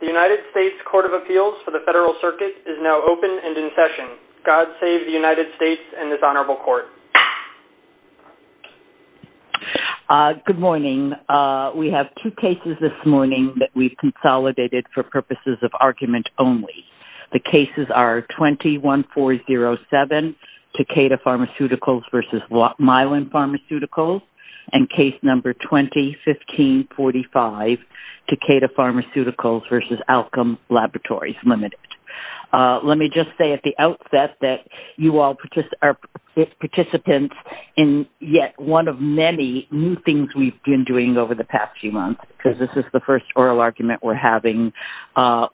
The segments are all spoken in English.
The United States Court of Appeals for the Federal Circuit is now open and in session. God save the United States and this honorable court. Good morning. We have two cases this morning that we've consolidated for purposes of argument only. The cases are 21407, Takeda Pharmaceuticals v. Mylan Pharmaceuticals, and case number 201545, Takeda Pharmaceuticals v. Alcom Laboratories, Ltd. Let me just say at the outset that you all are participants in yet one of many new things we've been doing over the past few months, because this is the first oral argument we're having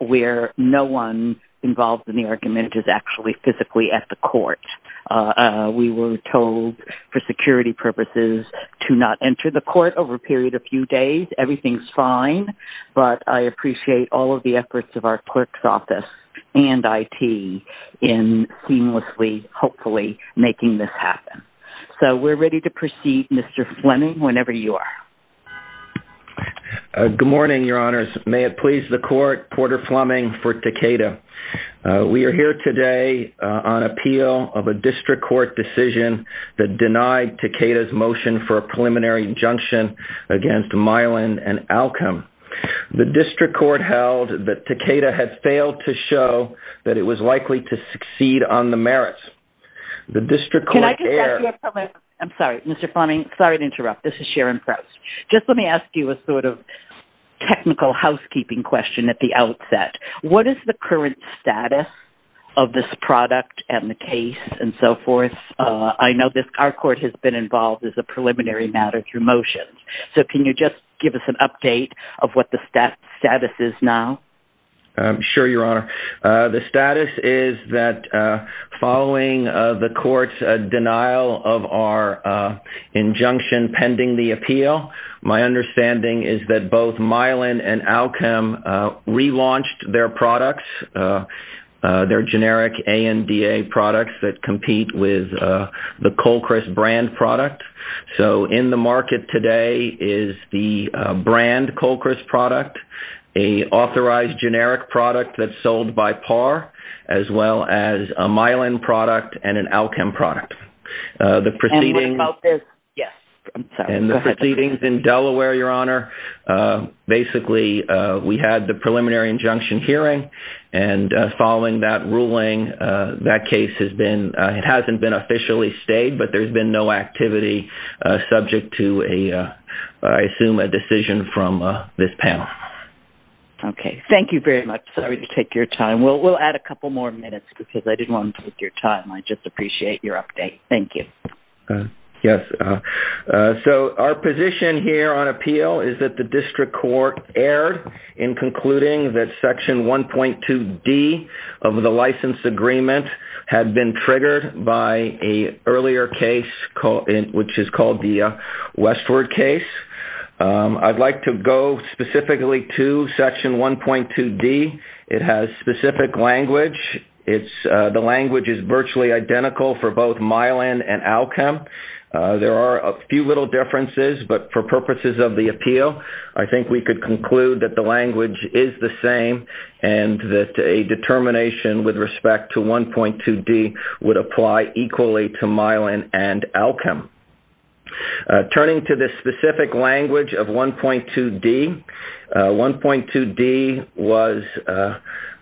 where no one involved in the argument is actually physically at the court. We were told for security purposes to not enter the court over a period of a few days. Everything's fine, but I appreciate all of the efforts of our clerk's office and IT in seamlessly, hopefully, making this happen. So we're ready to proceed, Mr. Fleming, whenever you are. Good morning, Your Honors. May it please the court, Porter Fleming for Takeda. We are here today on appeal of a district court decision that denied Takeda's motion for a preliminary injunction against Mylan and Alcom. The district court held that Takeda had failed to show that it was likely to succeed on the merits. I'm sorry, Mr. Fleming. Sorry to interrupt. This is Sharon Prowse. Just let me ask you a sort of technical housekeeping question at the outset. What is the current status of this product and the case and so forth? I know our court has been involved as a preliminary matter through motions. So can you just give us an update of what the status is now? Sure, Your Honor. The status is that following the court's denial of our injunction pending the appeal, my understanding is that both Mylan and Alcom relaunched their products, their generic ANDA products that compete with the Colchris brand product. So in the market today is the brand Colchris product, an authorized generic product that's sold by PAR, as well as a Mylan product and an Alcom product. And what about this? Yes. And the proceedings in Delaware, Your Honor, basically we had the preliminary injunction hearing. And following that ruling, that case hasn't been officially stayed, but there's been no activity subject to, I assume, a decision from this panel. Okay. Thank you very much. Sorry to take your time. We'll add a couple more minutes because I didn't want to take your time. I just appreciate your update. Thank you. Yes. So our position here on appeal is that the district court erred in concluding that Section 1.2D of the license agreement had been triggered by an earlier case, which is called the Westward case. I'd like to go specifically to Section 1.2D. It has specific language. The language is virtually identical for both Mylan and Alcom. There are a few little differences, but for purposes of the appeal, I think we could conclude that the language is the same and that a determination with respect to 1.2D would apply equally to Mylan and Alcom. Turning to the specific language of 1.2D, 1.2D was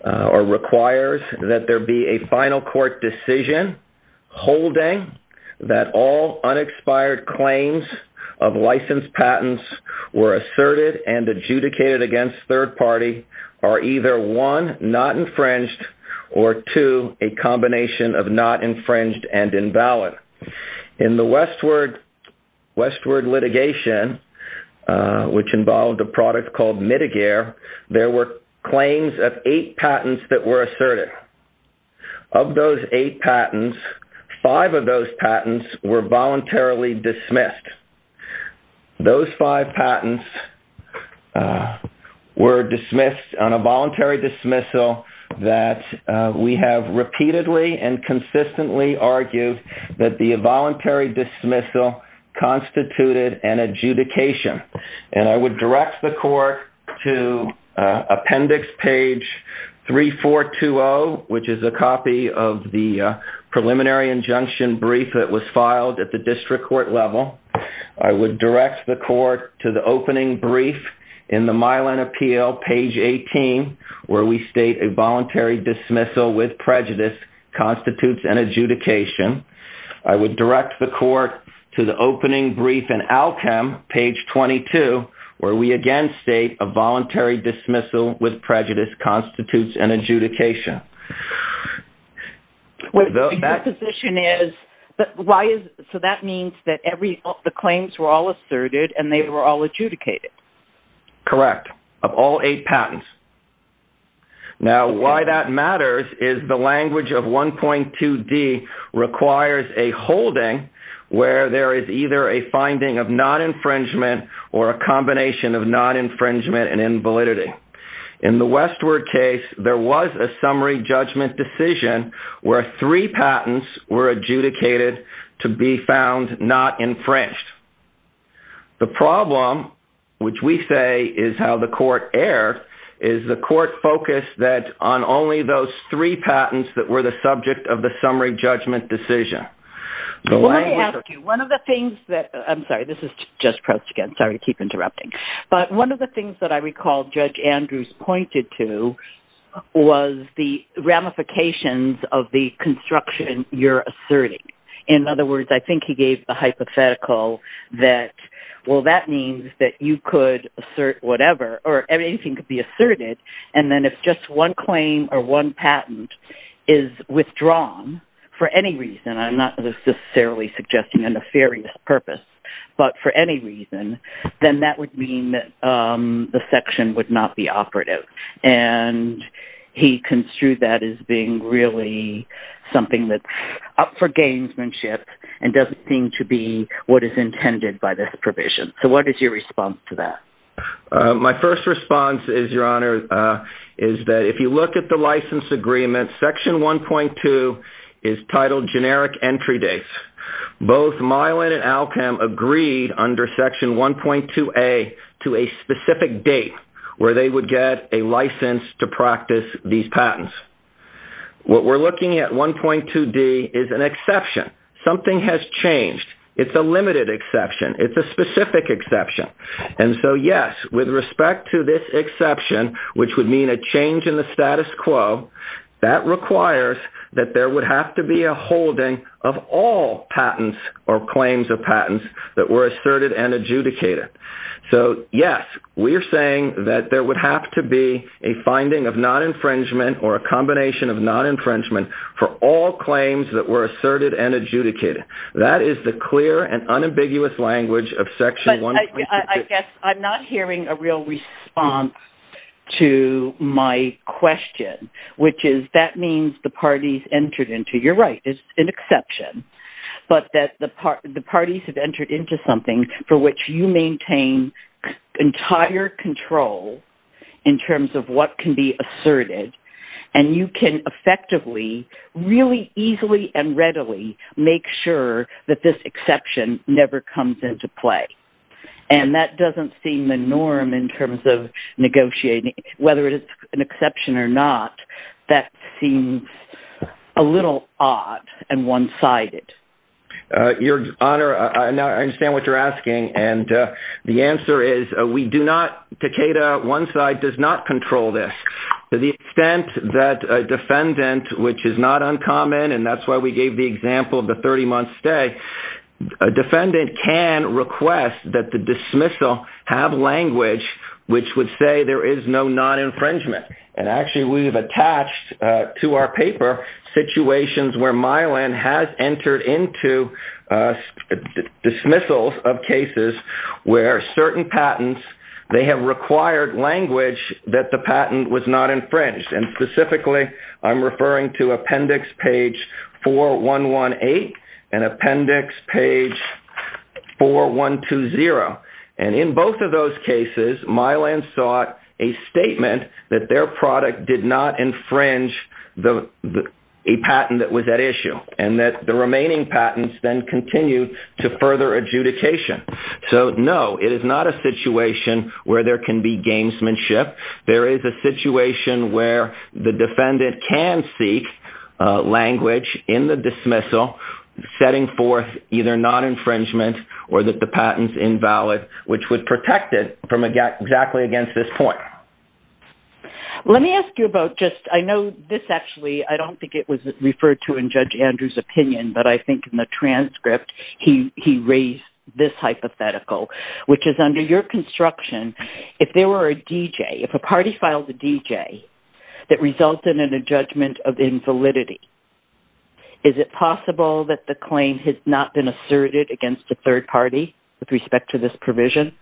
or requires that there be a final court decision holding that all unexpired claims of licensed patents were asserted and adjudicated against third party are either, one, not infringed, or two, a combination of not infringed and invalid. In the Westward litigation, which involved a product called Mitigare, there were claims of eight patents that were asserted. Of those eight patents, five of those patents were voluntarily dismissed. Those five patents were dismissed on a voluntary dismissal that we have repeatedly and consistently argued that the voluntary dismissal constituted an adjudication. I would direct the court to appendix page 3420, which is a copy of the preliminary injunction brief that was filed at the district court level. I would direct the court to the opening brief in the Mylan appeal, page 18, where we state a voluntary dismissal with prejudice constitutes an adjudication. I would direct the court to the opening brief in Alcom, page 22, where we again state a voluntary dismissal with prejudice constitutes an adjudication. Your position is, so that means that the claims were all asserted and they were all adjudicated? Correct, of all eight patents. Now, why that matters is the language of 1.2D requires a holding where there is either a finding of non-infringement or a combination of non-infringement and invalidity. In the Westward case, there was a summary judgment decision where three patents were adjudicated to be found not infringed. The problem, which we say is how the court erred, is the court focused on only those three patents that were the subject of the summary judgment decision. Let me ask you, one of the things that, I'm sorry, this is just pressed again, sorry to keep interrupting, but one of the things that I recall Judge Andrews pointed to was the ramifications of the construction you're asserting. In other words, I think he gave the hypothetical that, well, that means that you could assert whatever or anything could be asserted and then if just one claim or one patent is withdrawn for any reason, I'm not necessarily suggesting a nefarious purpose, but for any reason, then that would mean that the section would not be operative. And he construed that as being really something that's up for gamesmanship and doesn't seem to be what is intended by this provision. So what is your response to that? My first response is, Your Honor, is that if you look at the license agreement, Section 1.2 is titled Generic Entry Dates. Both Milan and Alchem agreed under Section 1.2A to a specific date where they would get a license to practice these patents. What we're looking at 1.2D is an exception. Something has changed. It's a limited exception. It's a specific exception. And so, yes, with respect to this exception, which would mean a change in the status quo, that requires that there would have to be a holding of all patents or claims of patents that were asserted and adjudicated. So, yes, we are saying that there would have to be a finding of non-infringement or a combination of non-infringement for all claims that were asserted and adjudicated. That is the clear and unambiguous language of Section 1.2. I guess I'm not hearing a real response to my question, which is that means the parties entered into, you're right, it's an exception, but that the parties have entered into something for which you maintain entire control in terms of what can be asserted, and you can effectively really easily and readily make sure that this exception never comes into play. And that doesn't seem the norm in terms of negotiating. Whether it's an exception or not, that seems a little odd and one-sided. Your Honor, I understand what you're asking, and the answer is we do not, Takeda, one side does not control this. To the extent that a defendant, which is not uncommon, and that's why we gave the example of the 30-month stay, a defendant can request that the dismissal have language which would say there is no non-infringement. And actually we have attached to our paper situations where Mylan has entered into dismissals of cases where certain patents, they have required language that the patent was not infringed. And specifically I'm referring to Appendix Page 4118 and Appendix Page 4120. And in both of those cases, Mylan sought a statement that their product did not infringe a patent that was at issue, and that the remaining patents then continue to further adjudication. So, no, it is not a situation where there can be gamesmanship. There is a situation where the defendant can seek language in the dismissal setting forth either non-infringement or that the patent's invalid, which would protect it from exactly against this point. Let me ask you about just, I know this actually, I don't think it was referred to in Judge Andrews' opinion, but I think in the transcript he raised this hypothetical, which is under your construction, if there were a DJ, if a party filed a DJ that resulted in a judgment of invalidity, is it possible that the claim has not been asserted against the third party with respect to this provision?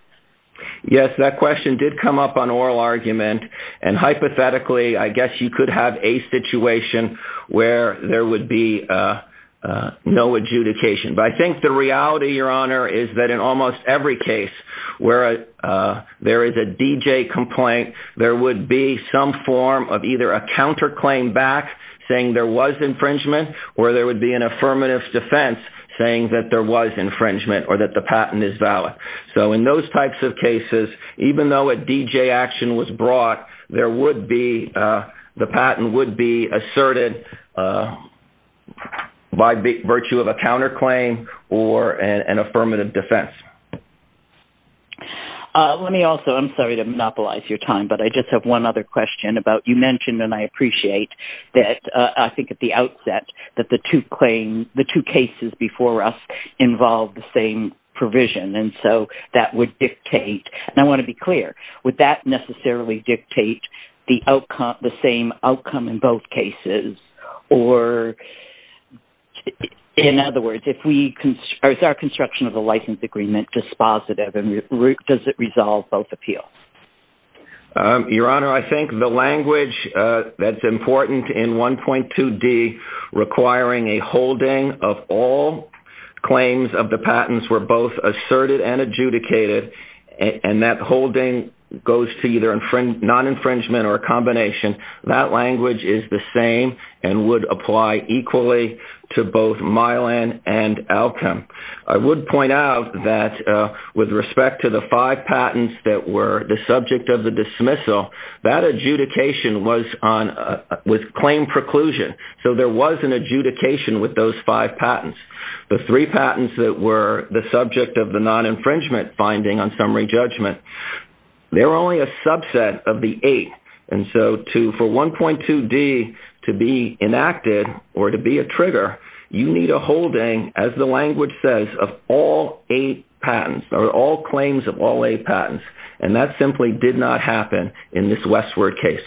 Yes, that question did come up on oral argument, and hypothetically I guess you could have a situation where there would be no adjudication. But I think the reality, Your Honor, is that in almost every case where there is a DJ complaint, there would be some form of either a counterclaim back saying there was infringement, or there would be an affirmative defense saying that there was infringement or that the patent is valid. So in those types of cases, even though a DJ action was brought, the patent would be asserted by virtue of a counterclaim or an affirmative defense. Let me also, I'm sorry to monopolize your time, but I just have one other question about you mentioned, and I appreciate, that I think at the outset that the two cases before us involved the same provision, and so that would dictate, and I want to be clear, would that necessarily dictate the same outcome in both cases, or in other words, is our construction of the license agreement dispositive, and does it resolve both appeals? Your Honor, I think the language that's important in 1.2D requiring a holding of all claims of the patents were both asserted and adjudicated, and that holding goes to either non-infringement or a combination. That language is the same and would apply equally to both Milan and Alchem. I would point out that with respect to the five patents that were the subject of the dismissal, that adjudication was with claim preclusion, so there was an adjudication with those five patents. The three patents that were the subject of the non-infringement finding on summary judgment, they were only a subset of the eight, and so for 1.2D to be enacted or to be a trigger, you need a holding, as the language says, of all eight patents or all claims of all eight patents, and that simply did not happen in this Westward case.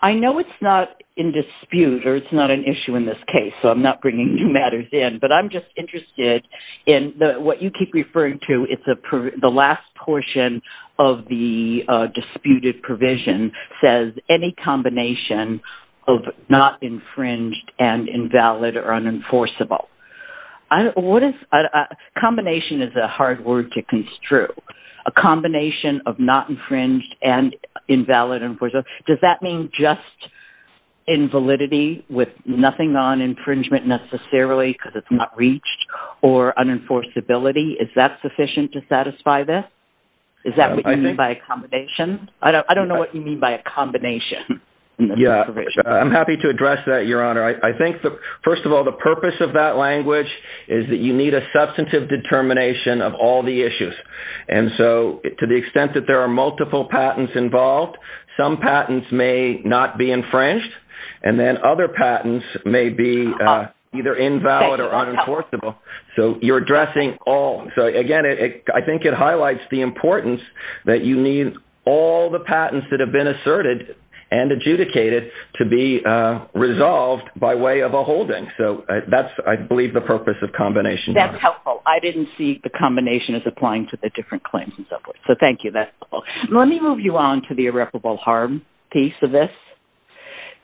I know it's not in dispute or it's not an issue in this case, so I'm not bringing new matters in, but I'm just interested in what you keep referring to. The last portion of the disputed provision says any combination of not infringed and invalid or unenforceable. Combination is a hard word to construe. A combination of not infringed and invalid or unenforceable. Does that mean just invalidity with nothing on infringement necessarily because it's not reached or unenforceability? Is that sufficient to satisfy this? Is that what you mean by a combination? I don't know what you mean by a combination. I'm happy to address that, Your Honor. I think, first of all, the purpose of that language is that you need a substantive determination of all the issues, and so to the extent that there are multiple patents involved, some patents may not be infringed and then other patents may be either invalid or unenforceable. So you're addressing all. Again, I think it highlights the importance that you need all the patents that have been asserted and adjudicated to be resolved by way of a holding. That's, I believe, the purpose of combination. That's helpful. I didn't see the combination as applying to the different claims and so forth. So thank you. Let me move you on to the irreparable harm piece of this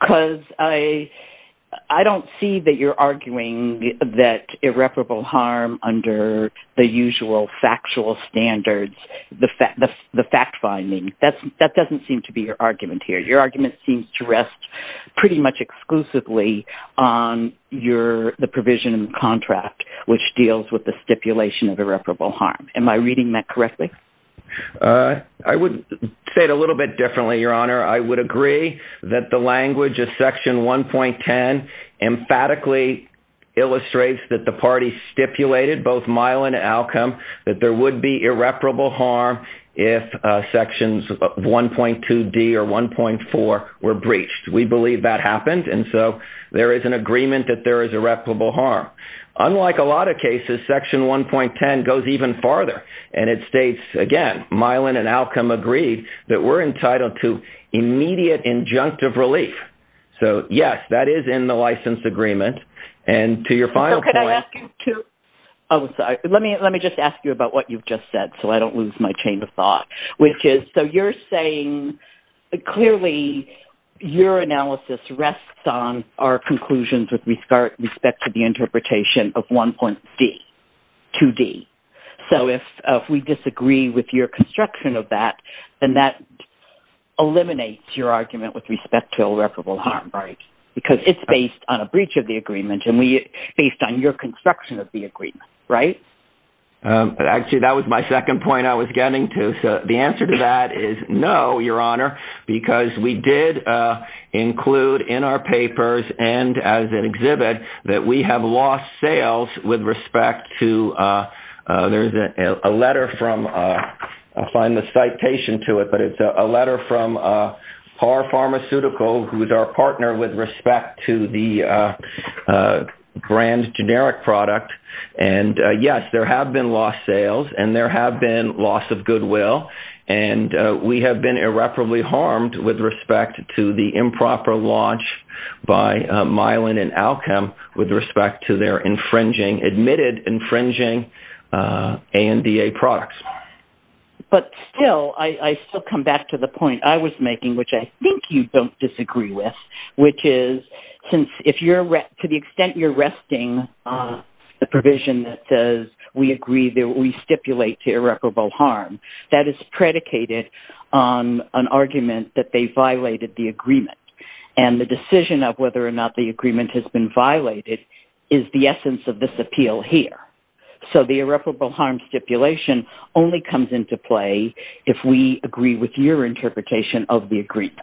because I don't see that you're arguing that irreparable harm under the usual factual standards, the fact-finding. That doesn't seem to be your argument here. Your argument seems to rest pretty much exclusively on the provision in the contract which deals with the stipulation of irreparable harm. Am I reading that correctly? I would say it a little bit differently, Your Honor. I would agree that the language of Section 1.10 emphatically illustrates that the party stipulated both mile and outcome that there would be irreparable harm if Sections 1.2d or 1.4 were breached. We believe that happened, and so there is an agreement that there is irreparable harm. Unlike a lot of cases, Section 1.10 goes even farther, and it states, again, mile and an outcome agreed that we're entitled to immediate injunctive relief. So, yes, that is in the license agreement. And to your final point. So could I ask you too? Oh, sorry. Let me just ask you about what you've just said so I don't lose my chain of thought, which is so you're saying clearly your analysis rests on our conclusions with respect to the interpretation of 1.2d. So if we disagree with your construction of that, then that eliminates your argument with respect to irreparable harm. Right. Because it's based on a breach of the agreement and based on your construction of the agreement. Right? Actually, that was my second point I was getting to. The answer to that is no, Your Honor, because we did include in our papers and as an exhibit that we have lost sales with respect to a letter from, I'll find the citation to it, but it's a letter from Par Pharmaceutical, who is our partner with respect to the brand generic product. And, yes, there have been lost sales and there have been loss of goodwill, and we have been irreparably harmed with respect to the improper launch by Mylan and Alchem with respect to their admitted infringing ANDA products. But still, I still come back to the point I was making, which I think you don't disagree with, which is to the extent you're resting the provision that says we agree that we stipulate irreparable harm, that is predicated on an argument that they violated the agreement. And the decision of whether or not the agreement has been violated is the essence of this appeal here. So the irreparable harm stipulation only comes into play if we agree with your interpretation of the agreement.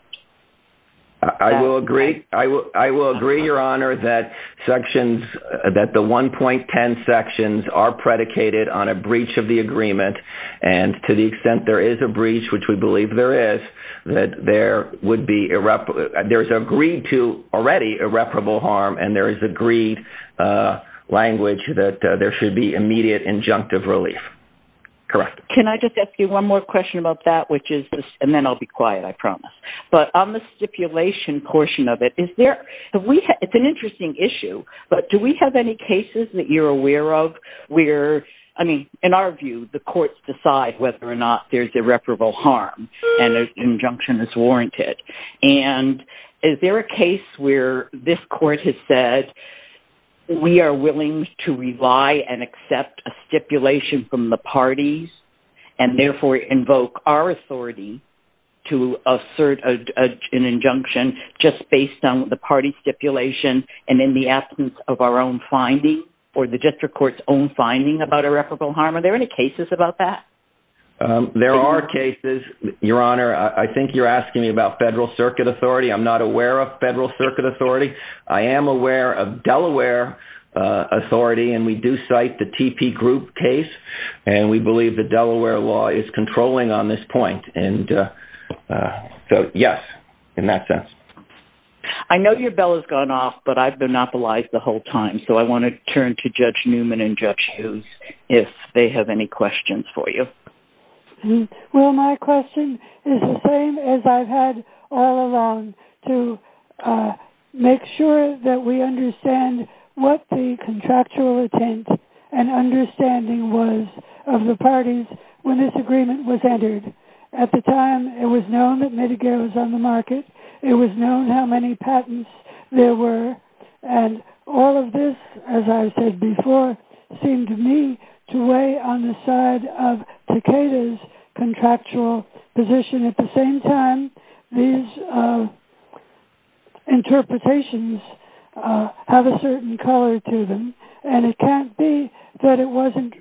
I will agree, Your Honor, that the 1.10 sections are predicated on a breach of the agreement, and to the extent there is a breach, which we believe there is, that there is agreed to already irreparable harm, and there is agreed language that there should be immediate injunctive relief. Correct. Can I just ask you one more question about that? And then I'll be quiet, I promise. But on the stipulation portion of it, it's an interesting issue, but do we have any cases that you're aware of where, I mean, in our view, the courts decide whether or not there's irreparable harm and injunction is warranted. And is there a case where this court has said we are willing to rely and accept a stipulation from the parties and therefore invoke our authority to assert an injunction just based on the party stipulation and in the absence of our own finding or the district court's own finding about irreparable harm? Are there any cases about that? There are cases, Your Honor. I think you're asking me about federal circuit authority. I'm not aware of federal circuit authority. I am aware of Delaware authority, and we do cite the TP Group case, and we believe the Delaware law is controlling on this point. And so, yes, in that sense. I know your bell has gone off, but I've been monopolized the whole time, so I want to turn to Judge Newman and Judge Hughes if they have any questions for you. Well, my question is the same as I've had all along, to make sure that we understand what the contractual intent and understanding was of the parties when this agreement was entered. At the time, it was known that Medicare was on the market. It was known how many patents there were. And all of this, as I said before, seemed to me to weigh on the side of Takeda's contractual position. At the same time, these interpretations have a certain color to them, and it can't be that it wasn't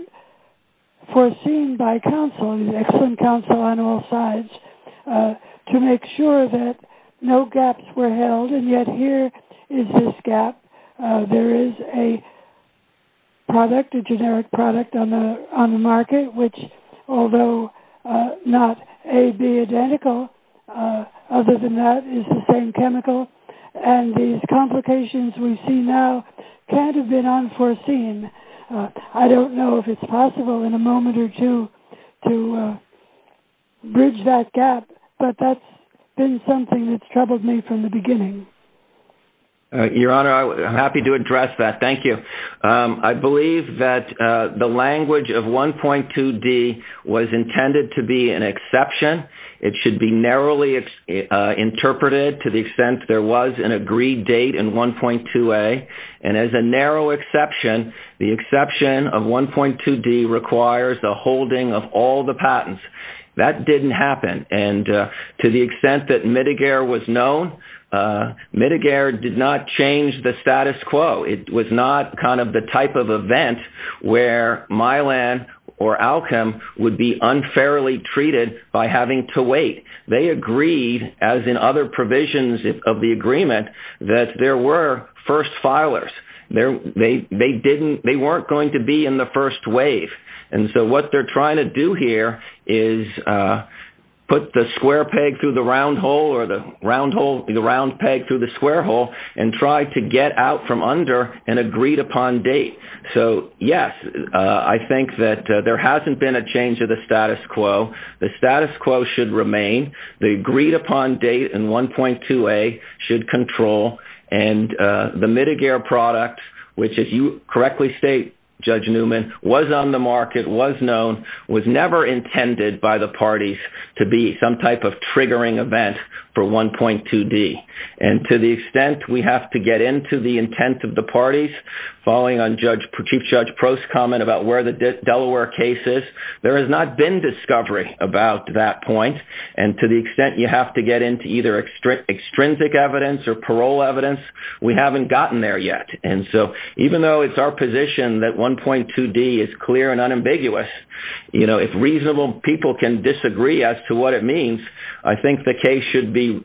foreseen by counsel, and there's excellent counsel on all sides, to make sure that no gaps were held, and yet here is this gap. There is a product, a generic product on the market, which although not A, B identical, other than that is the same chemical, and these complications we see now can't have been unforeseen. I don't know if it's possible in a moment or two to bridge that gap, but that's been something that's troubled me from the beginning. Your Honor, I'm happy to address that. Thank you. I believe that the language of 1.2D was intended to be an exception. It should be narrowly interpreted to the extent there was an agreed date in 1.2A, and as a narrow exception, the exception of 1.2D requires the holding of all the patents. That didn't happen, and to the extent that Midegare was known, Midegare did not change the status quo. It was not kind of the type of event where Mylan or Alkem would be unfairly treated by having to wait. They agreed, as in other provisions of the agreement, that there were first filers. They weren't going to be in the first wave, and so what they're trying to do here is put the square peg through the round hole or the round peg through the square hole and try to get out from under an agreed-upon date. So, yes, I think that there hasn't been a change of the status quo. The status quo should remain. The agreed-upon date in 1.2A should control, and the Midegare product, which, if you correctly state, Judge Newman, was on the market, was known, was never intended by the parties to be some type of triggering event for 1.2D, and to the extent we have to get into the intent of the parties, following on Chief Judge Prost's comment about where the Delaware case is, there has not been discovery about that point, and to the extent you have to get into either extrinsic evidence or parole evidence, we haven't gotten there yet. And so even though it's our position that 1.2D is clear and unambiguous, if reasonable people can disagree as to what it means, I think the case should be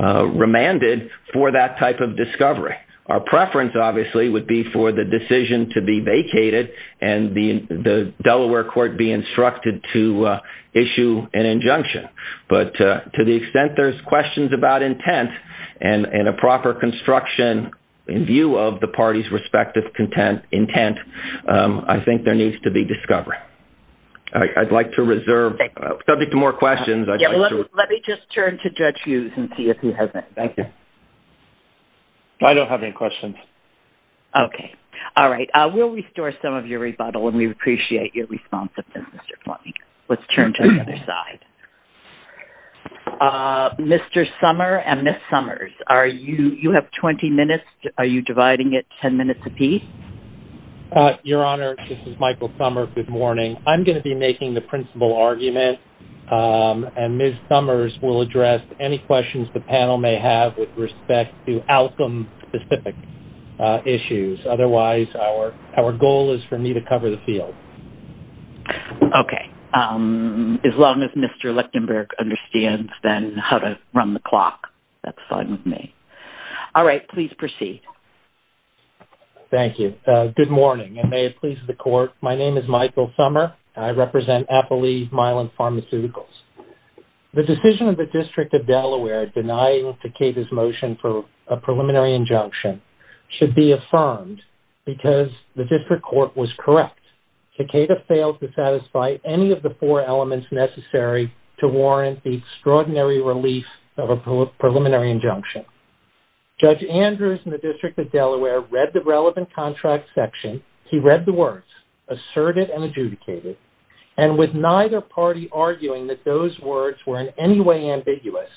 remanded for that type of discovery. Our preference, obviously, would be for the decision to be vacated and the Delaware court be instructed to issue an injunction. But to the extent there's questions about intent and a proper construction in view of the parties' respective intent, I think there needs to be discovery. I'd like to reserve subject to more questions. Let me just turn to Judge Hughes and see if he has any. Thank you. I don't have any questions. Okay. All right. We'll restore some of your rebuttal, and we appreciate your response to this, Mr. Fleming. Let's turn to the other side. Mr. Summers and Ms. Summers, you have 20 minutes. Are you dividing it 10 minutes a piece? Your Honor, this is Michael Summers. Good morning. I'm going to be making the principal argument, and Ms. Summers will address any questions the panel may have with respect to outcome-specific issues. Otherwise, our goal is for me to cover the field. Okay. As long as Mr. Lichtenberg understands then how to run the clock, that's fine with me. All right. Please proceed. Thank you. Good morning, and may it please the Court. My name is Michael Summers. I represent Appalee Mylan Pharmaceuticals. The decision of the District of Delaware denying Teceda's motion for a Teceda failed to satisfy any of the four elements necessary to warrant the extraordinary relief of a preliminary injunction. Judge Andrews in the District of Delaware read the relevant contract section. He read the words, asserted and adjudicated, and with neither party arguing that those words were in any way ambiguous,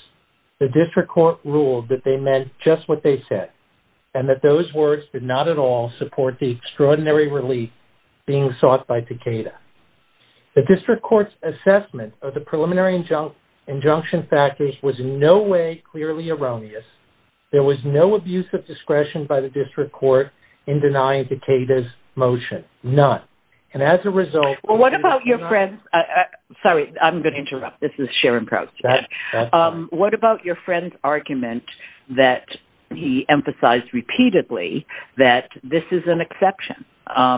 the District Court ruled that they meant just what they said, and that those words did not at all support the extraordinary relief being sought by Teceda. The District Court's assessment of the preliminary injunction package was in no way clearly erroneous. There was no abuse of discretion by the District Court in denying Teceda's motion. None. And as a result- Well, what about your friend's-sorry, I'm going to interrupt. This is Sharon Probst. What about your friend's argument that he emphasized repeatedly that this is an exception?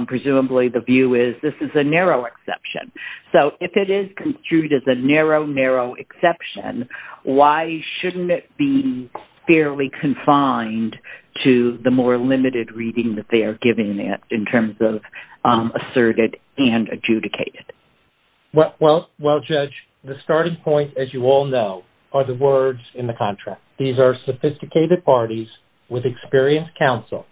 Presumably the view is this is a narrow exception. So if it is construed as a narrow, narrow exception, why shouldn't it be fairly confined to the more limited reading that they are giving it in terms of asserted and adjudicated? Well, Judge, the starting point, as you all know, are the words in the contract. These are sophisticated parties with experienced counsel.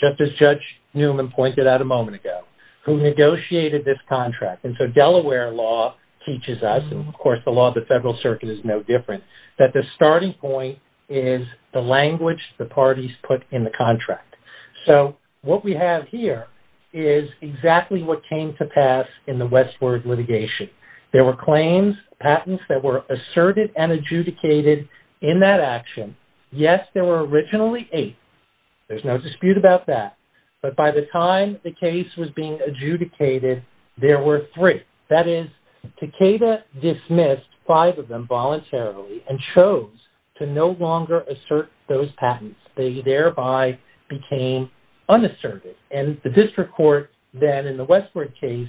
Just as Judge Newman pointed out a moment ago, who negotiated this contract. And so Delaware law teaches us, and, of course, the law of the Federal Circuit is no different, that the starting point is the language the parties put in the contract. So what we have here is exactly what came to pass in the Westward litigation. There were claims, patents that were asserted and adjudicated in that action. Yes, there were originally eight. There's no dispute about that. But by the time the case was being adjudicated, there were three. That is, Takeda dismissed five of them voluntarily and chose to no longer assert those patents. They thereby became unassertive. And the district court then in the Westward case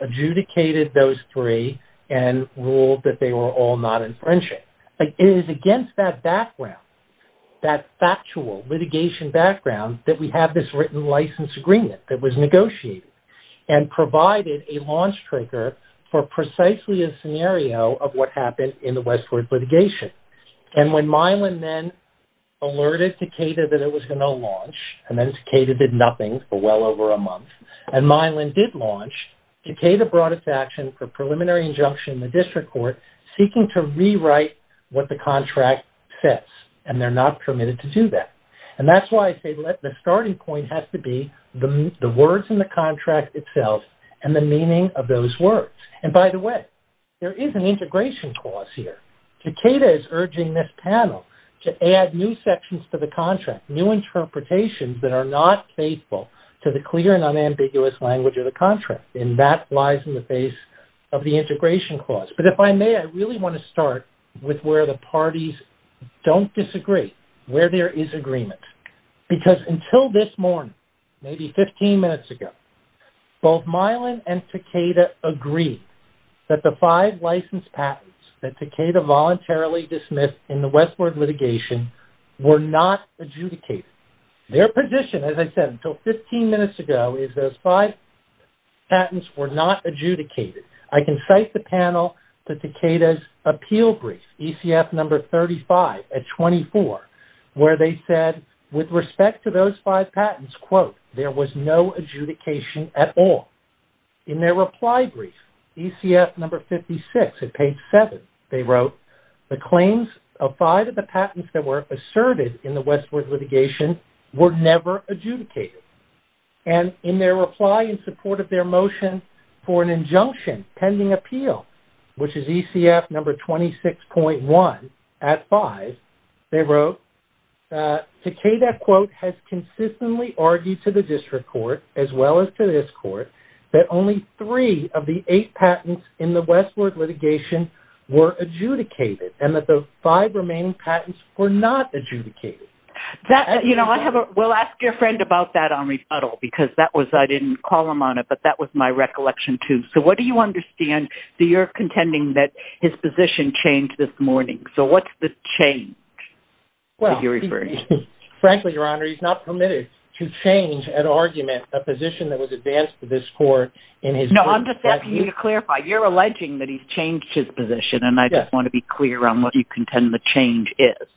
adjudicated those three and ruled that they were all not infringing. It is against that background, that factual litigation background, that we have this written license agreement that was negotiated and provided a launch trigger for precisely a scenario of what happened in the Westward litigation. And when Milan then alerted Takeda that it was going to launch, and then Takeda did nothing for well over a month, and Milan did launch, Takeda brought its action for preliminary injunction in the district court, seeking to rewrite what the contract says, and they're not permitted to do that. And that's why I say the starting point has to be the words in the contract itself and the meaning of those words. And by the way, there is an integration clause here. Takeda is urging this panel to add new sections to the contract, new interpretations that are not faithful to the clear and unambiguous language of the contract, and that lies in the face of the integration clause. But if I may, I really want to start with where the parties don't disagree, where there is agreement. Because until this morning, maybe 15 minutes ago, both Milan and Takeda agreed that the five licensed patents that Takeda voluntarily dismissed in the Westward litigation were not adjudicated. Their position, as I said, until 15 minutes ago, is those five patents were not adjudicated. I can cite the panel to Takeda's appeal brief, ECF number 35 at 24, where they said with respect to those five patents, quote, there was no adjudication at all. In their reply brief, ECF number 56 at page 7, they wrote, the claims of five of the patents that were asserted in the Westward litigation were never adjudicated. And in their reply in support of their motion for an injunction pending appeal, which is ECF number 26.1 at 5, they wrote, Takeda, quote, has consistently argued to the district court as well as to this court that only three of the eight patents in the Westward litigation were adjudicated and that the five remaining patents were not adjudicated. We'll ask your friend about that on rebuttal because I didn't call him on it, but that was my recollection too. So what do you understand? So you're contending that his position changed this morning. So what's the change that you're referring to? Frankly, Your Honor, he's not permitted to change an argument, a position that was advanced to this court in his brief. No, I'm just asking you to clarify. You're alleging that he's changed his position, and I just want to be clear on what you contend the change is.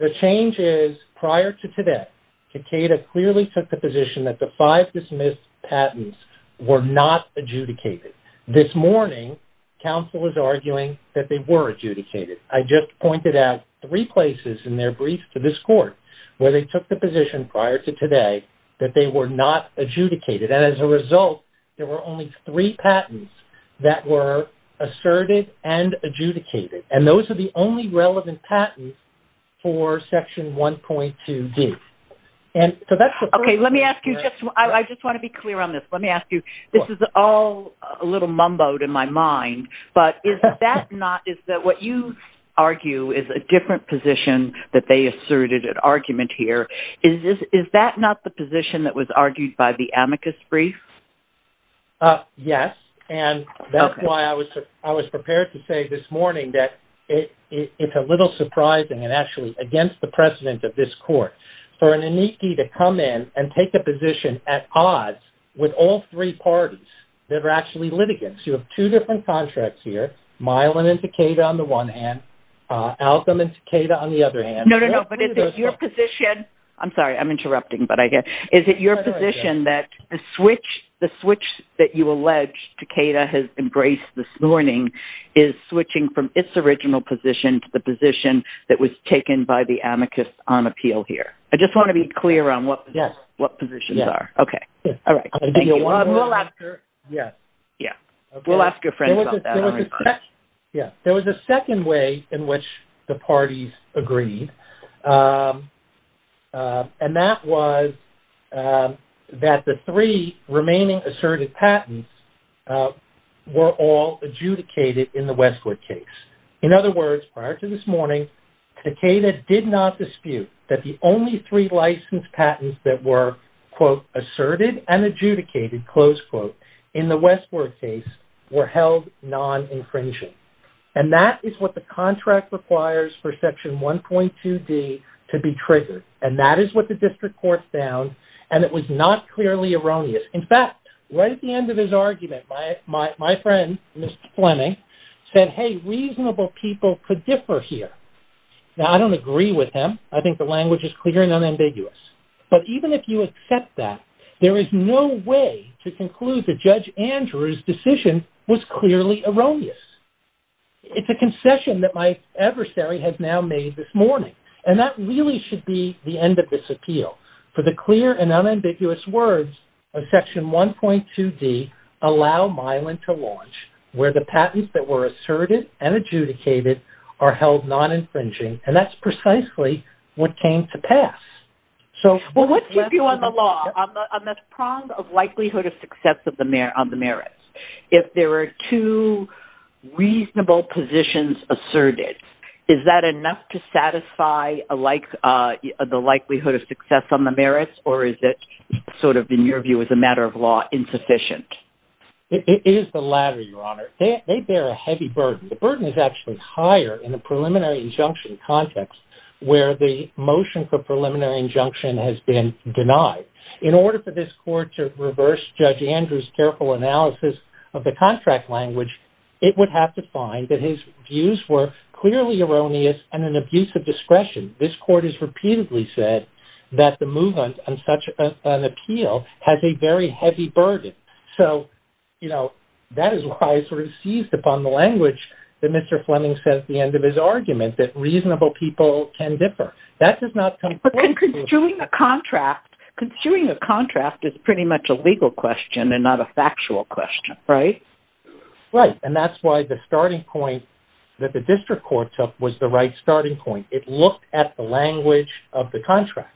The change is prior to today, Takeda clearly took the position that the five dismissed patents were not adjudicated. This morning, counsel is arguing that they were adjudicated. I just pointed out three places in their brief to this court where they took the position prior to today that they were not adjudicated, and as a result, there were only three patents that were asserted and adjudicated, and those are the only relevant patents for Section 1.2D. Okay, let me ask you, I just want to be clear on this. Let me ask you, this is all a little mumbled in my mind, but is that not what you argue is a different position that they asserted an argument here? Is that not the position that was argued by the amicus brief? Yes, and that's why I was prepared to say this morning that it's a little surprising and actually against the precedent of this court for an amicus to come in and take a position at odds with all three parties that are actually litigants. You have two different contracts here, Milan and Takeda on the one hand, Alcom and Takeda on the other hand. No, no, no, but is it your position, I'm sorry, I'm interrupting, but is it your position that the switch that you allege Takeda has embraced this morning is switching from its original position to the position that was taken by the amicus on appeal here? I just want to be clear on what positions are. Yes. Okay, all right, thank you. We'll ask your friends about that. There was a second way in which the parties agreed, and that was that the three remaining asserted patents were all adjudicated in the Westwood case. In other words, prior to this morning, Takeda did not dispute that the only three licensed patents that were, quote, asserted and adjudicated, close quote, in the Westwood case were held non-infringing. And that is what the contract requires for section 1.2D to be triggered, and that is what the district court found, and it was not clearly erroneous. In fact, right at the end of his argument, my friend, Mr. Fleming, said, hey, reasonable people could differ here. Now, I don't agree with him. I think the language is clear and unambiguous. But even if you accept that, there is no way to conclude that Judge Andrew's decision was clearly erroneous. It's a concession that my adversary has now made this morning, and that really should be the end of this appeal. For the clear and unambiguous words of section 1.2D allow Milan to launch, where the patents that were asserted and adjudicated are held non-infringing, and that's precisely what came to pass. Well, what's your view on the law, on the prong of likelihood of success on the merits? If there are two reasonable positions asserted, is that enough to satisfy the likelihood of success on the merits, or is it sort of, in your view, as a matter of law, insufficient? It is the latter, Your Honor. They bear a heavy burden. The burden is actually higher in the preliminary injunction context, where the motion for preliminary injunction has been denied. In order for this court to reverse Judge Andrew's careful analysis of the contract language, it would have to find that his views were clearly erroneous and an abuse of discretion. This court has repeatedly said that the movement on such an appeal has a very heavy burden. So, you know, that is why I sort of seized upon the language that Mr. Fleming said at the end of his argument, that reasonable people can differ. That does not come... But construing a contract, construing a contract is pretty much a legal question and not a factual question, right? Right, and that's why the starting point that the district court took was the right starting point. It looked at the language of the contract.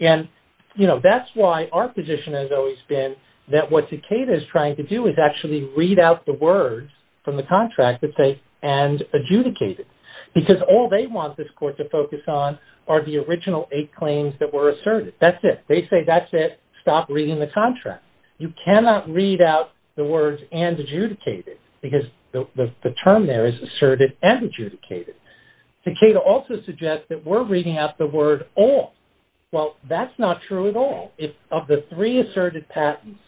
And, you know, that's why our position has always been that what Takeda is trying to do is actually read out the words from the contract that say, and adjudicated, because all they want this court to focus on are the original eight claims that were asserted. That's it. They say, that's it. Stop reading the contract. You cannot read out the words, and adjudicated, because the term there is asserted and adjudicated. Takeda also suggests that we're reading out the word all. Well, that's not true at all. Of the three asserted patents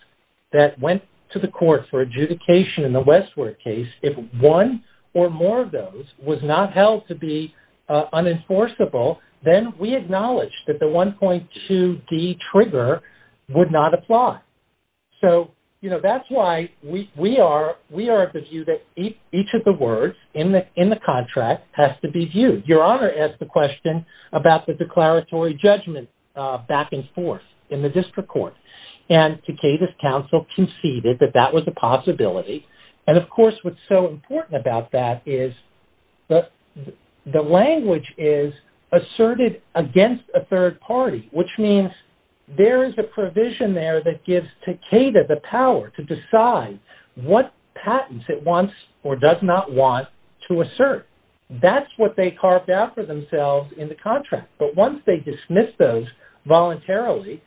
that went to the court for adjudication in the Westwood case, if one or more of those was not held to be unenforceable, then we acknowledge that the 1.2D trigger would not apply. So, you know, that's why we are of the view that each of the words in the contract has to be viewed. Your Honor asked the question about the declaratory judgment back and forth in the district court. And Takeda's counsel conceded that that was a possibility. And, of course, what's so important about that is the language is asserted against a third party, which means there is a provision there that gives Takeda the power to decide what patents it wants or does not want to assert. That's what they carved out for themselves in the contract. But once they dismiss those voluntarily,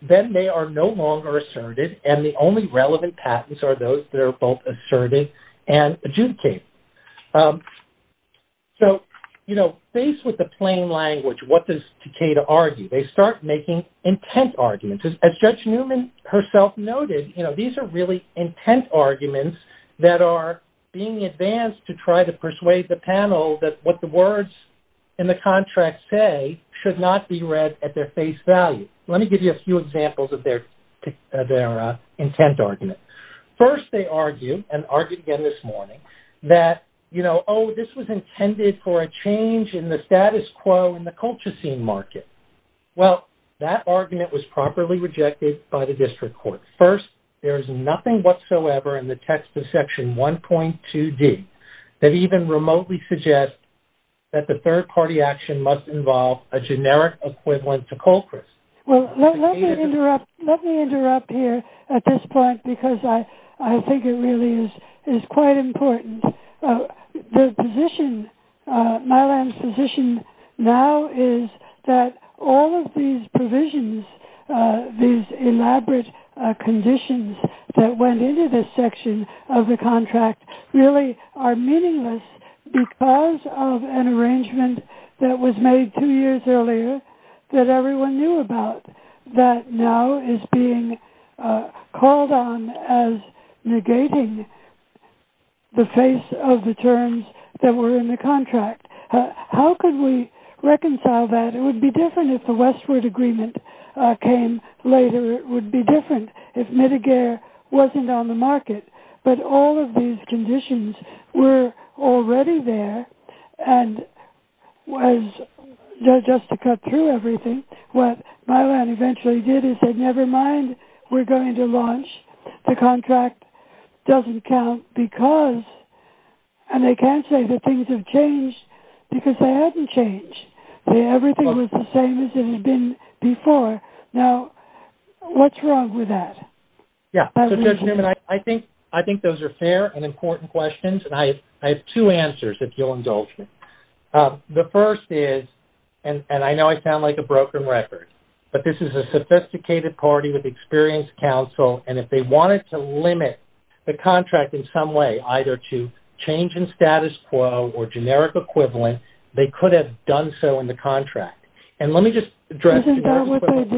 then they are no longer asserted, and the only relevant patents are those that are both asserted and adjudicated. So, you know, faced with the plain language, what does Takeda argue? They start making intent arguments. As Judge Newman herself noted, you know, these are really intent arguments that are being advanced to try to persuade the panel that what the words in the contract say should not be read at their face value. Let me give you a few examples of their intent argument. First, they argue, and argued again this morning, that, you know, oh, this was intended for a change in the status quo in the Colchicine market. Well, that argument was properly rejected by the district court. First, there is nothing whatsoever in the text of Section 1.2D that even remotely suggests that the third party action must involve a generic equivalent to Colchris. Well, let me interrupt here at this point because I think it really is quite important. The position, Mylan's position now is that all of these provisions, these elaborate conditions that went into this section of the contract, really are meaningless because of an arrangement that was made two years earlier that everyone knew about that now is being called on as negating the face of the terms that were in the contract. How could we reconcile that? It would be different if the westward agreement came later. It would be different if Mideagare wasn't on the market. But all of these conditions were already there, and just to cut through everything, what Mylan eventually did is said, never mind, we're going to launch. The contract doesn't count because, and they can't say that things have changed because they haven't changed. Everything was the same as it had been before. Now, what's wrong with that? Yeah, so Judge Newman, I think those are fair and important questions, and I have two answers, if you'll indulge me. The first is, and I know I sound like a broken record, but this is a sophisticated party with experienced counsel, and if they wanted to limit the contract in some way, either to change in status quo or generic equivalent, they could have done so in the contract. And let me just address generic equivalent.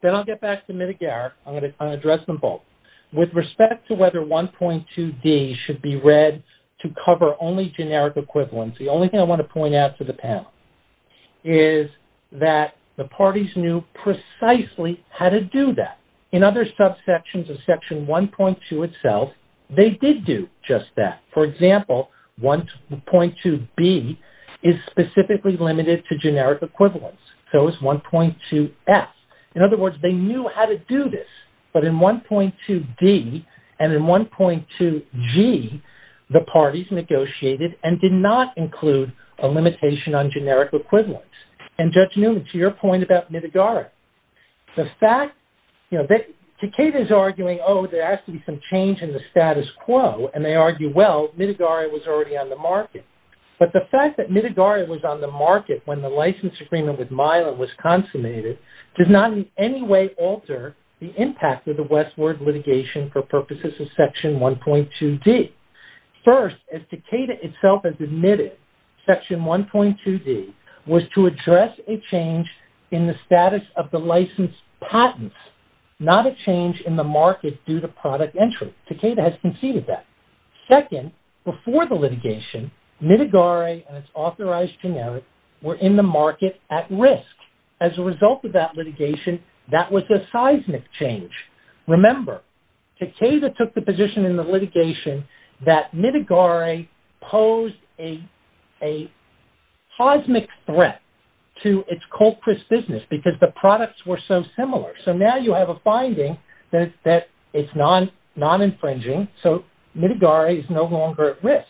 Then I'll get back to Mideagare. I'm going to address them both. With respect to whether 1.2D should be read to cover only generic equivalents, the only thing I want to point out to the panel is that the parties knew precisely how to do that. In other subsections of Section 1.2 itself, they did do just that. For example, 1.2B is specifically limited to generic equivalents. So is 1.2F. In other words, they knew how to do this. But in 1.2D and in 1.2G, the parties negotiated and did not include a limitation on generic equivalents. And Judge Newman, to your point about Mideagare, the fact that Takeda is arguing, oh, there has to be some change in the status quo, and they argue, well, Mideagare was already on the market. But the fact that Mideagare was on the market when the license agreement with MILA was consummated did not in any way alter the impact of the Westward litigation for purposes of Section 1.2D. First, as Takeda itself has admitted, Section 1.2D was to address a change in the status of the license patents, not a change in the market due to product entry. Takeda has conceded that. Second, before the litigation, Mideagare and its authorized generic were in the market at risk. As a result of that litigation, that was a seismic change. Remember, Takeda took the position in the litigation that Mideagare posed a cosmic threat to its cold-pressed business because the products were so similar. So now you have a finding that it's non-infringing, so Mideagare is no longer at risk.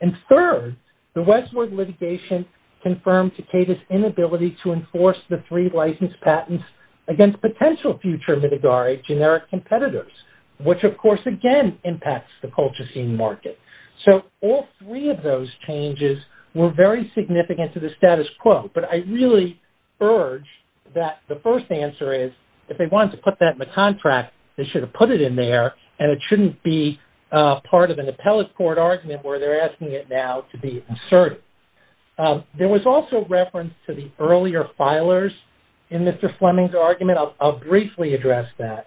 And third, the Westward litigation confirmed Takeda's inability to enforce the three license patents against potential future Mideagare generic competitors, which, of course, again impacts the Colchicine market. So all three of those changes were very significant to the status quo, but I really urge that the first answer is if they wanted to put that in the contract, they should have put it in there, and it shouldn't be part of an appellate court argument where they're asking it now to be inserted. There was also reference to the earlier filers in Mr. Fleming's argument. I'll briefly address that.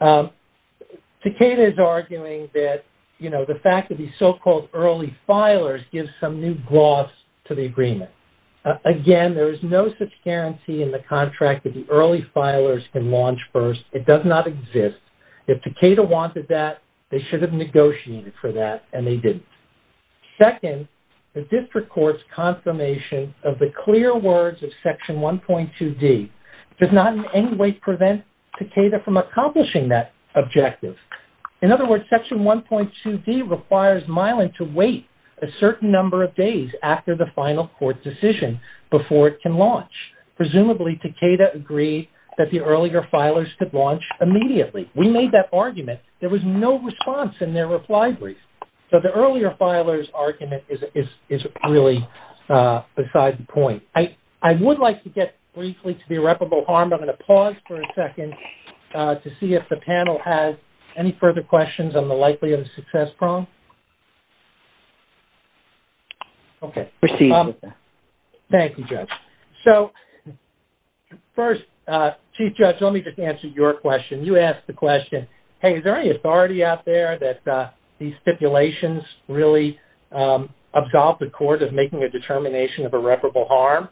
Takeda is arguing that, you know, the fact that these so-called early filers give some new gloss to the agreement. Again, there is no such guarantee in the contract that the early filers can launch first. It does not exist. If Takeda wanted that, they should have negotiated for that, and they didn't. Second, the district court's confirmation of the clear words of Section 1.2d does not in any way prevent Takeda from accomplishing that objective. In other words, Section 1.2d requires Milan to wait a certain number of days after the final court decision before it can launch. Presumably, Takeda agreed that the earlier filers could launch immediately. We made that argument. There was no response in their reply brief. So the earlier filers' argument is really beside the point. I would like to get briefly to the irreparable harm. I'm going to pause for a second to see if the panel has any further questions on the likelihood of success problem. Okay. Thank you, Judge. So first, Chief Judge, let me just answer your question. You asked the question, hey, is there any authority out there that these stipulations really absolve the court of making a determination of irreparable harm?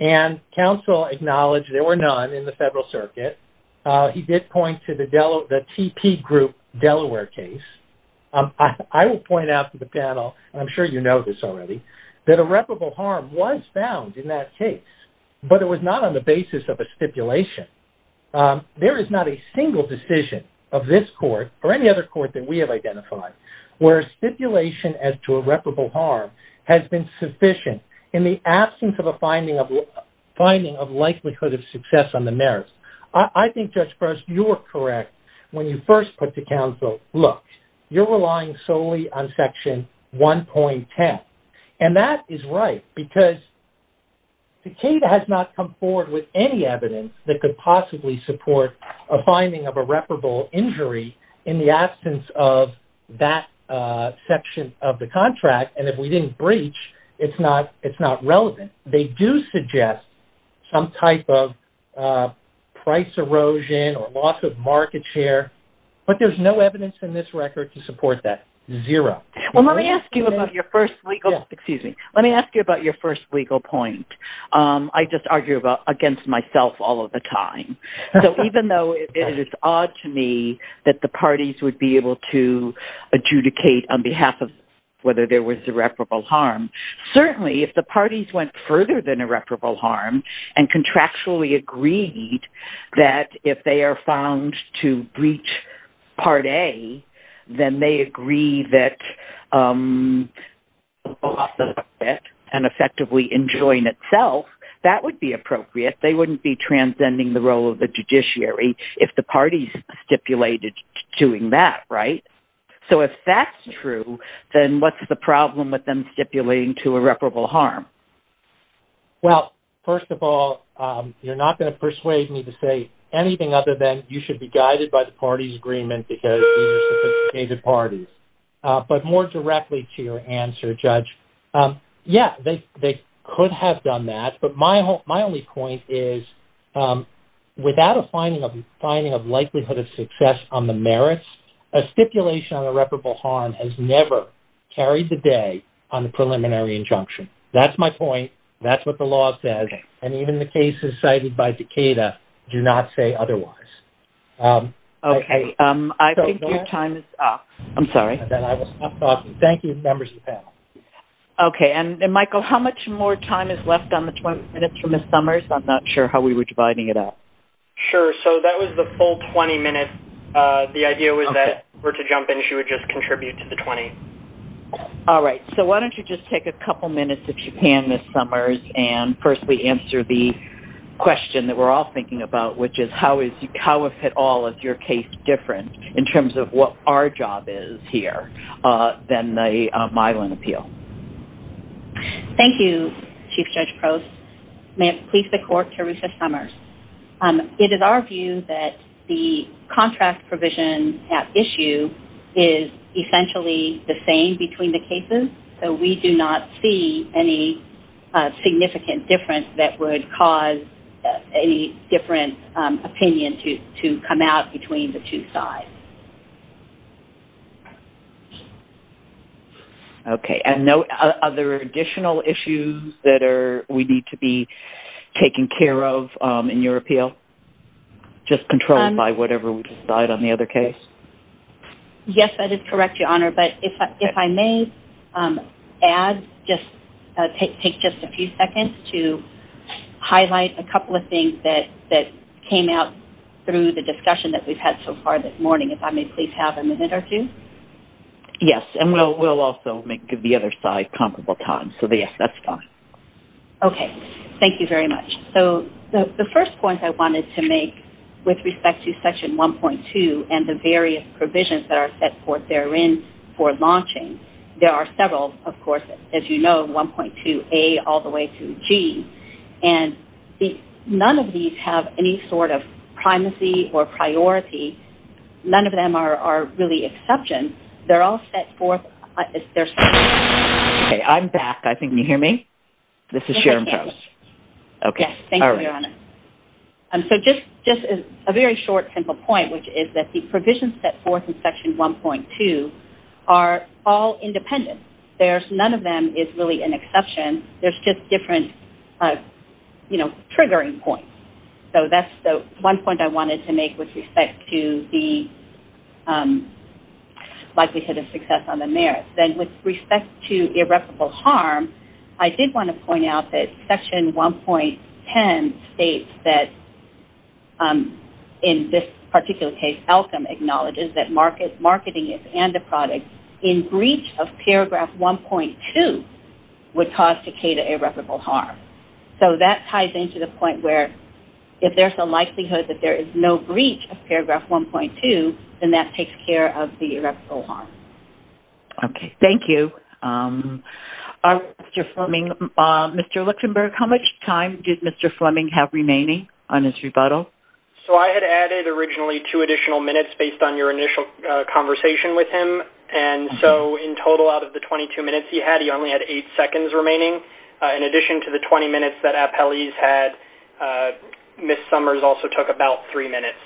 And counsel acknowledged there were none in the federal circuit. He did point to the TP group Delaware case. I will point out to the panel, and I'm sure you know this already, that irreparable harm was found in that case, but it was not on the basis of a stipulation. There is not a single decision of this court, or any other court that we have identified, where stipulation as to irreparable harm has been sufficient in the absence of a finding of likelihood of success on the merits. I think, Judge Gross, you were correct when you first put to counsel, look, you're relying solely on Section 1.10. And that is right because Takeda has not come forward with any evidence that could possibly support a finding of irreparable injury in the absence of that section of the contract. And if we didn't breach, it's not relevant. They do suggest some type of price erosion or loss of market share, but there's no evidence in this record to support that. Zero. Well, let me ask you about your first legal point. I just argue against myself all of the time. So even though it is odd to me that the parties would be able to adjudicate on behalf of whether there was irreparable harm, certainly if the parties went further than irreparable harm, and contractually agreed that if they are found to breach Part A, then they agree that loss of market and effectively enjoin itself, that would be appropriate. They wouldn't be transcending the role of the judiciary if the parties stipulated doing that, right? So if that's true, then what's the problem with them stipulating to irreparable harm? Well, first of all, you're not going to persuade me to say anything other than you should be guided by the parties' agreement because you just adjudicated parties. But more directly to your answer, Judge, yeah, they could have done that. But my only point is without a finding of likelihood of success on the merits, a stipulation on irreparable harm has never carried the day on the preliminary injunction. That's my point. That's what the law says. And even the cases cited by Decatur do not say otherwise. Okay. I think your time is up. I'm sorry. Then I will stop talking. Thank you, members of the panel. Okay. And, Michael, how much more time is left on the 20 minutes for Ms. Summers? I'm not sure how we were dividing it up. Sure. So that was the full 20 minutes. The idea was that if we were to jump in, she would just contribute to the 20. All right. So why don't you just take a couple minutes, if you can, Ms. Summers, and firstly answer the question that we're all thinking about, which is how, if at all, is your case different in terms of what our job is here than the Mylan appeal? Thank you, Chief Judge Prost. May it please the Court, Teresa Summers. It is our view that the contract provision at issue is essentially the same between the cases. And so we do not see any significant difference that would cause any different opinion to come out between the two sides. Okay. And are there additional issues that we need to be taking care of in your appeal, just controlled by whatever we decided on the other case? Yes, that is correct, Your Honor. But if I may add, just take just a few seconds to highlight a couple of things that came out through the discussion that we've had so far this morning, if I may please have a minute or two. Yes. And we'll also give the other side comparable time. So, yes, that's fine. Okay. Thank you very much. So the first point I wanted to make with respect to Section 1.2 and the various provisions that are set forth therein for launching, there are several, of course, as you know, 1.2a all the way through g. And none of these have any sort of primacy or priority. None of them are really exceptions. They're all set forth as they're set forth. Okay. I'm back. I think you hear me. This is Sharon Charles. Yes. Thank you, Your Honor. So just a very short, simple point, which is that the provisions set forth in Section 1.2 are all independent. None of them is really an exception. There's just different, you know, triggering points. So that's the one point I wanted to make with respect to the likelihood of success on the merits. Then with respect to irreparable harm, I did want to point out that Section 1.10 states that, in this particular case, Elkham acknowledges that marketing and the product in breach of paragraph 1.2 would cause Takeda irreparable harm. So that ties into the point where if there's a likelihood that there is no breach of paragraph 1.2, then that takes care of the irreparable harm. Okay. Thank you. Mr. Fleming, Mr. Luxenberg, how much time did Mr. Fleming have remaining on his rebuttal? So I had added originally two additional minutes based on your initial conversation with him. And so in total, out of the 22 minutes he had, he only had eight seconds remaining. In addition to the 20 minutes that Appellee's had, Ms. Summers also took about three minutes.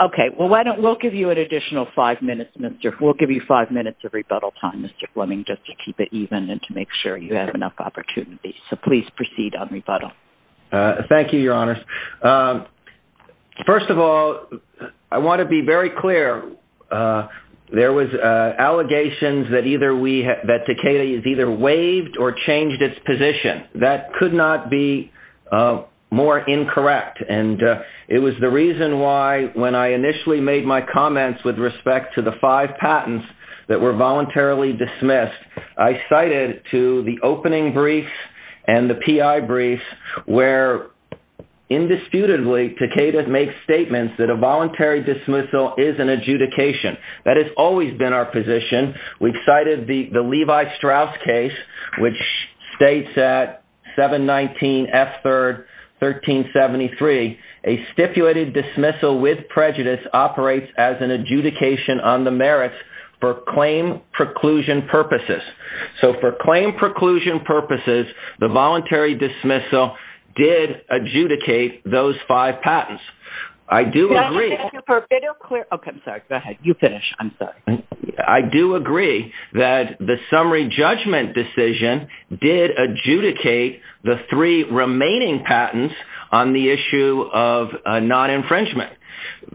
Okay. Well, we'll give you an additional five minutes. We'll give you five minutes of rebuttal time, Mr. Fleming, just to keep it even and to make sure you have enough opportunity. So please proceed on rebuttal. Thank you, Your Honors. First of all, I want to be very clear. There was allegations that Takeda has either waived or changed its position. That could not be more incorrect. And it was the reason why, when I initially made my comments with respect to the five patents that were voluntarily dismissed, I cited to the opening brief and the PI brief where, indisputably, Takeda makes statements that a voluntary dismissal is an adjudication. That has always been our position. We've cited the Levi-Strauss case, which states at 719F3rd 1373, a stipulated dismissal with prejudice operates as an adjudication on the merits for claim preclusion purposes. So for claim preclusion purposes, the voluntary dismissal did adjudicate those five patents. I do agree. Can I just finish? Okay. I'm sorry. Go ahead. You finish. I'm sorry. I do agree that the summary judgment decision did adjudicate the three remaining patents on the issue of non-infringement.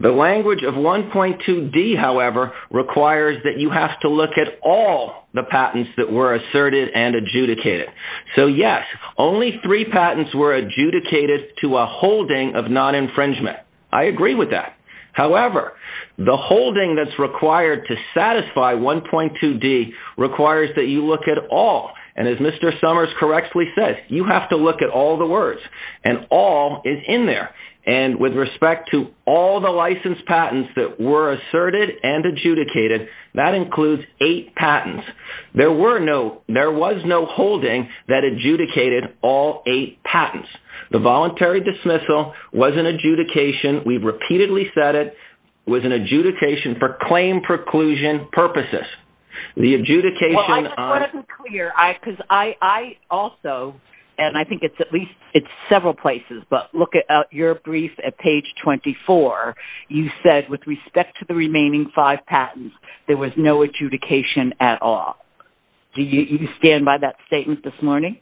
The language of 1.2d, however, requires that you have to look at all the patents that were asserted and adjudicated. So, yes, only three patents were adjudicated to a holding of non-infringement. I agree with that. However, the holding that's required to satisfy 1.2d requires that you look at all. And as Mr. Summers correctly says, you have to look at all the words, and all is in there. And with respect to all the licensed patents that were asserted and adjudicated, that includes eight patents. There was no holding that adjudicated all eight patents. The voluntary dismissal was an adjudication. We've repeatedly said it was an adjudication for claim preclusion purposes. Well, I just want to be clear because I also, and I think it's several places, but look at your brief at page 24. You said, with respect to the remaining five patents, there was no adjudication at all. Do you stand by that statement this morning?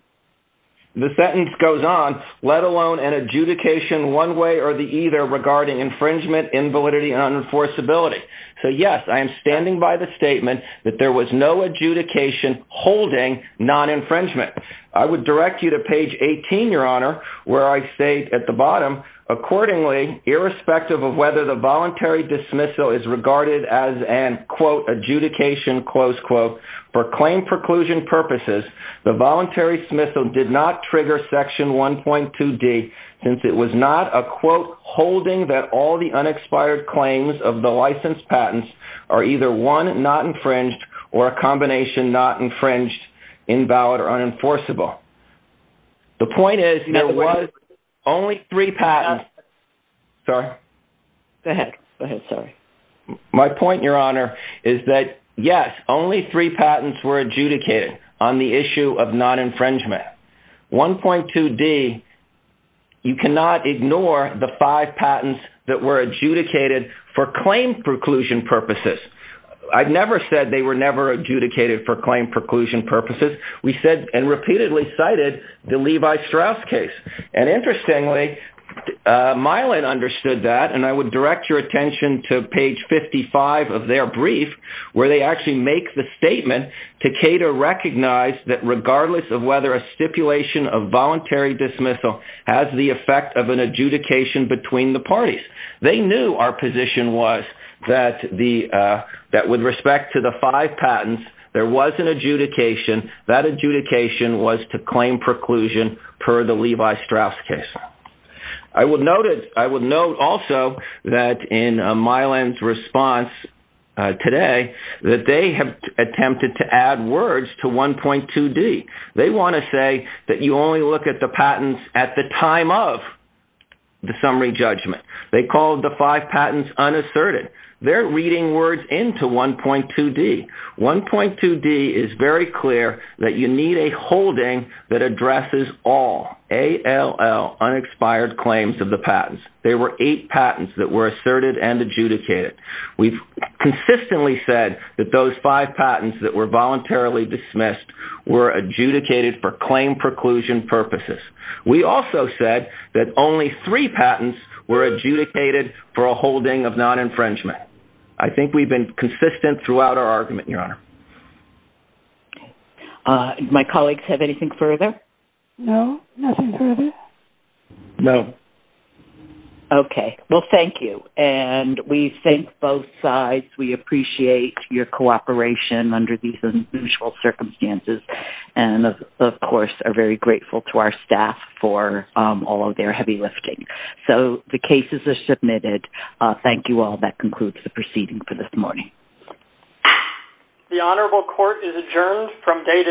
The sentence goes on, let alone an adjudication one way or the other regarding infringement, invalidity, and unenforceability. So, yes, I am standing by the statement that there was no adjudication holding non-infringement. I would direct you to page 18, Your Honor, where I say at the bottom, accordingly, irrespective of whether the voluntary dismissal is regarded as an, quote, adjudication, close quote, for claim preclusion purposes, the voluntary dismissal did not trigger section 1.2D, since it was not a, quote, holding that all the unexpired claims of the licensed patents are either one not infringed or a combination not infringed, invalid, or unenforceable. The point is, there was only three patents. Sorry. Go ahead. Go ahead. Sorry. My point, Your Honor, is that, yes, only three patents were adjudicated on the issue of non-infringement. 1.2D, you cannot ignore the five patents that were adjudicated for claim preclusion purposes. I've never said they were never adjudicated for claim preclusion purposes. We said and repeatedly cited the Levi Strauss case. And, interestingly, Myland understood that, and I would direct your attention to page 55 of their brief, where they actually make the statement, Takeda recognized that regardless of whether a stipulation of voluntary dismissal has the effect of an adjudication between the parties. They knew our position was that with respect to the five patents, there was an adjudication. That adjudication was to claim preclusion per the Levi Strauss case. I would note also that in Myland's response today, that they have attempted to add words to 1.2D. They want to say that you only look at the patents at the time of the summary judgment. They called the five patents unasserted. They're reading words into 1.2D. 1.2D is very clear that you need a holding that addresses all, A-L-L, unexpired claims of the patents. There were eight patents that were asserted and adjudicated. We've consistently said that those five patents that were voluntarily dismissed were adjudicated for claim preclusion purposes. We also said that only three patents were adjudicated for a holding of non-infringement. I think we've been consistent throughout our argument, Your Honor. My colleagues have anything further? No, nothing further. No. Okay. Well, thank you. And we thank both sides. We appreciate your cooperation under these unusual circumstances and, of course, are very grateful to our staff for all of their heavy lifting. So the cases are submitted. Thank you all. That concludes the proceeding for this morning. The Honorable Court is adjourned from day to day.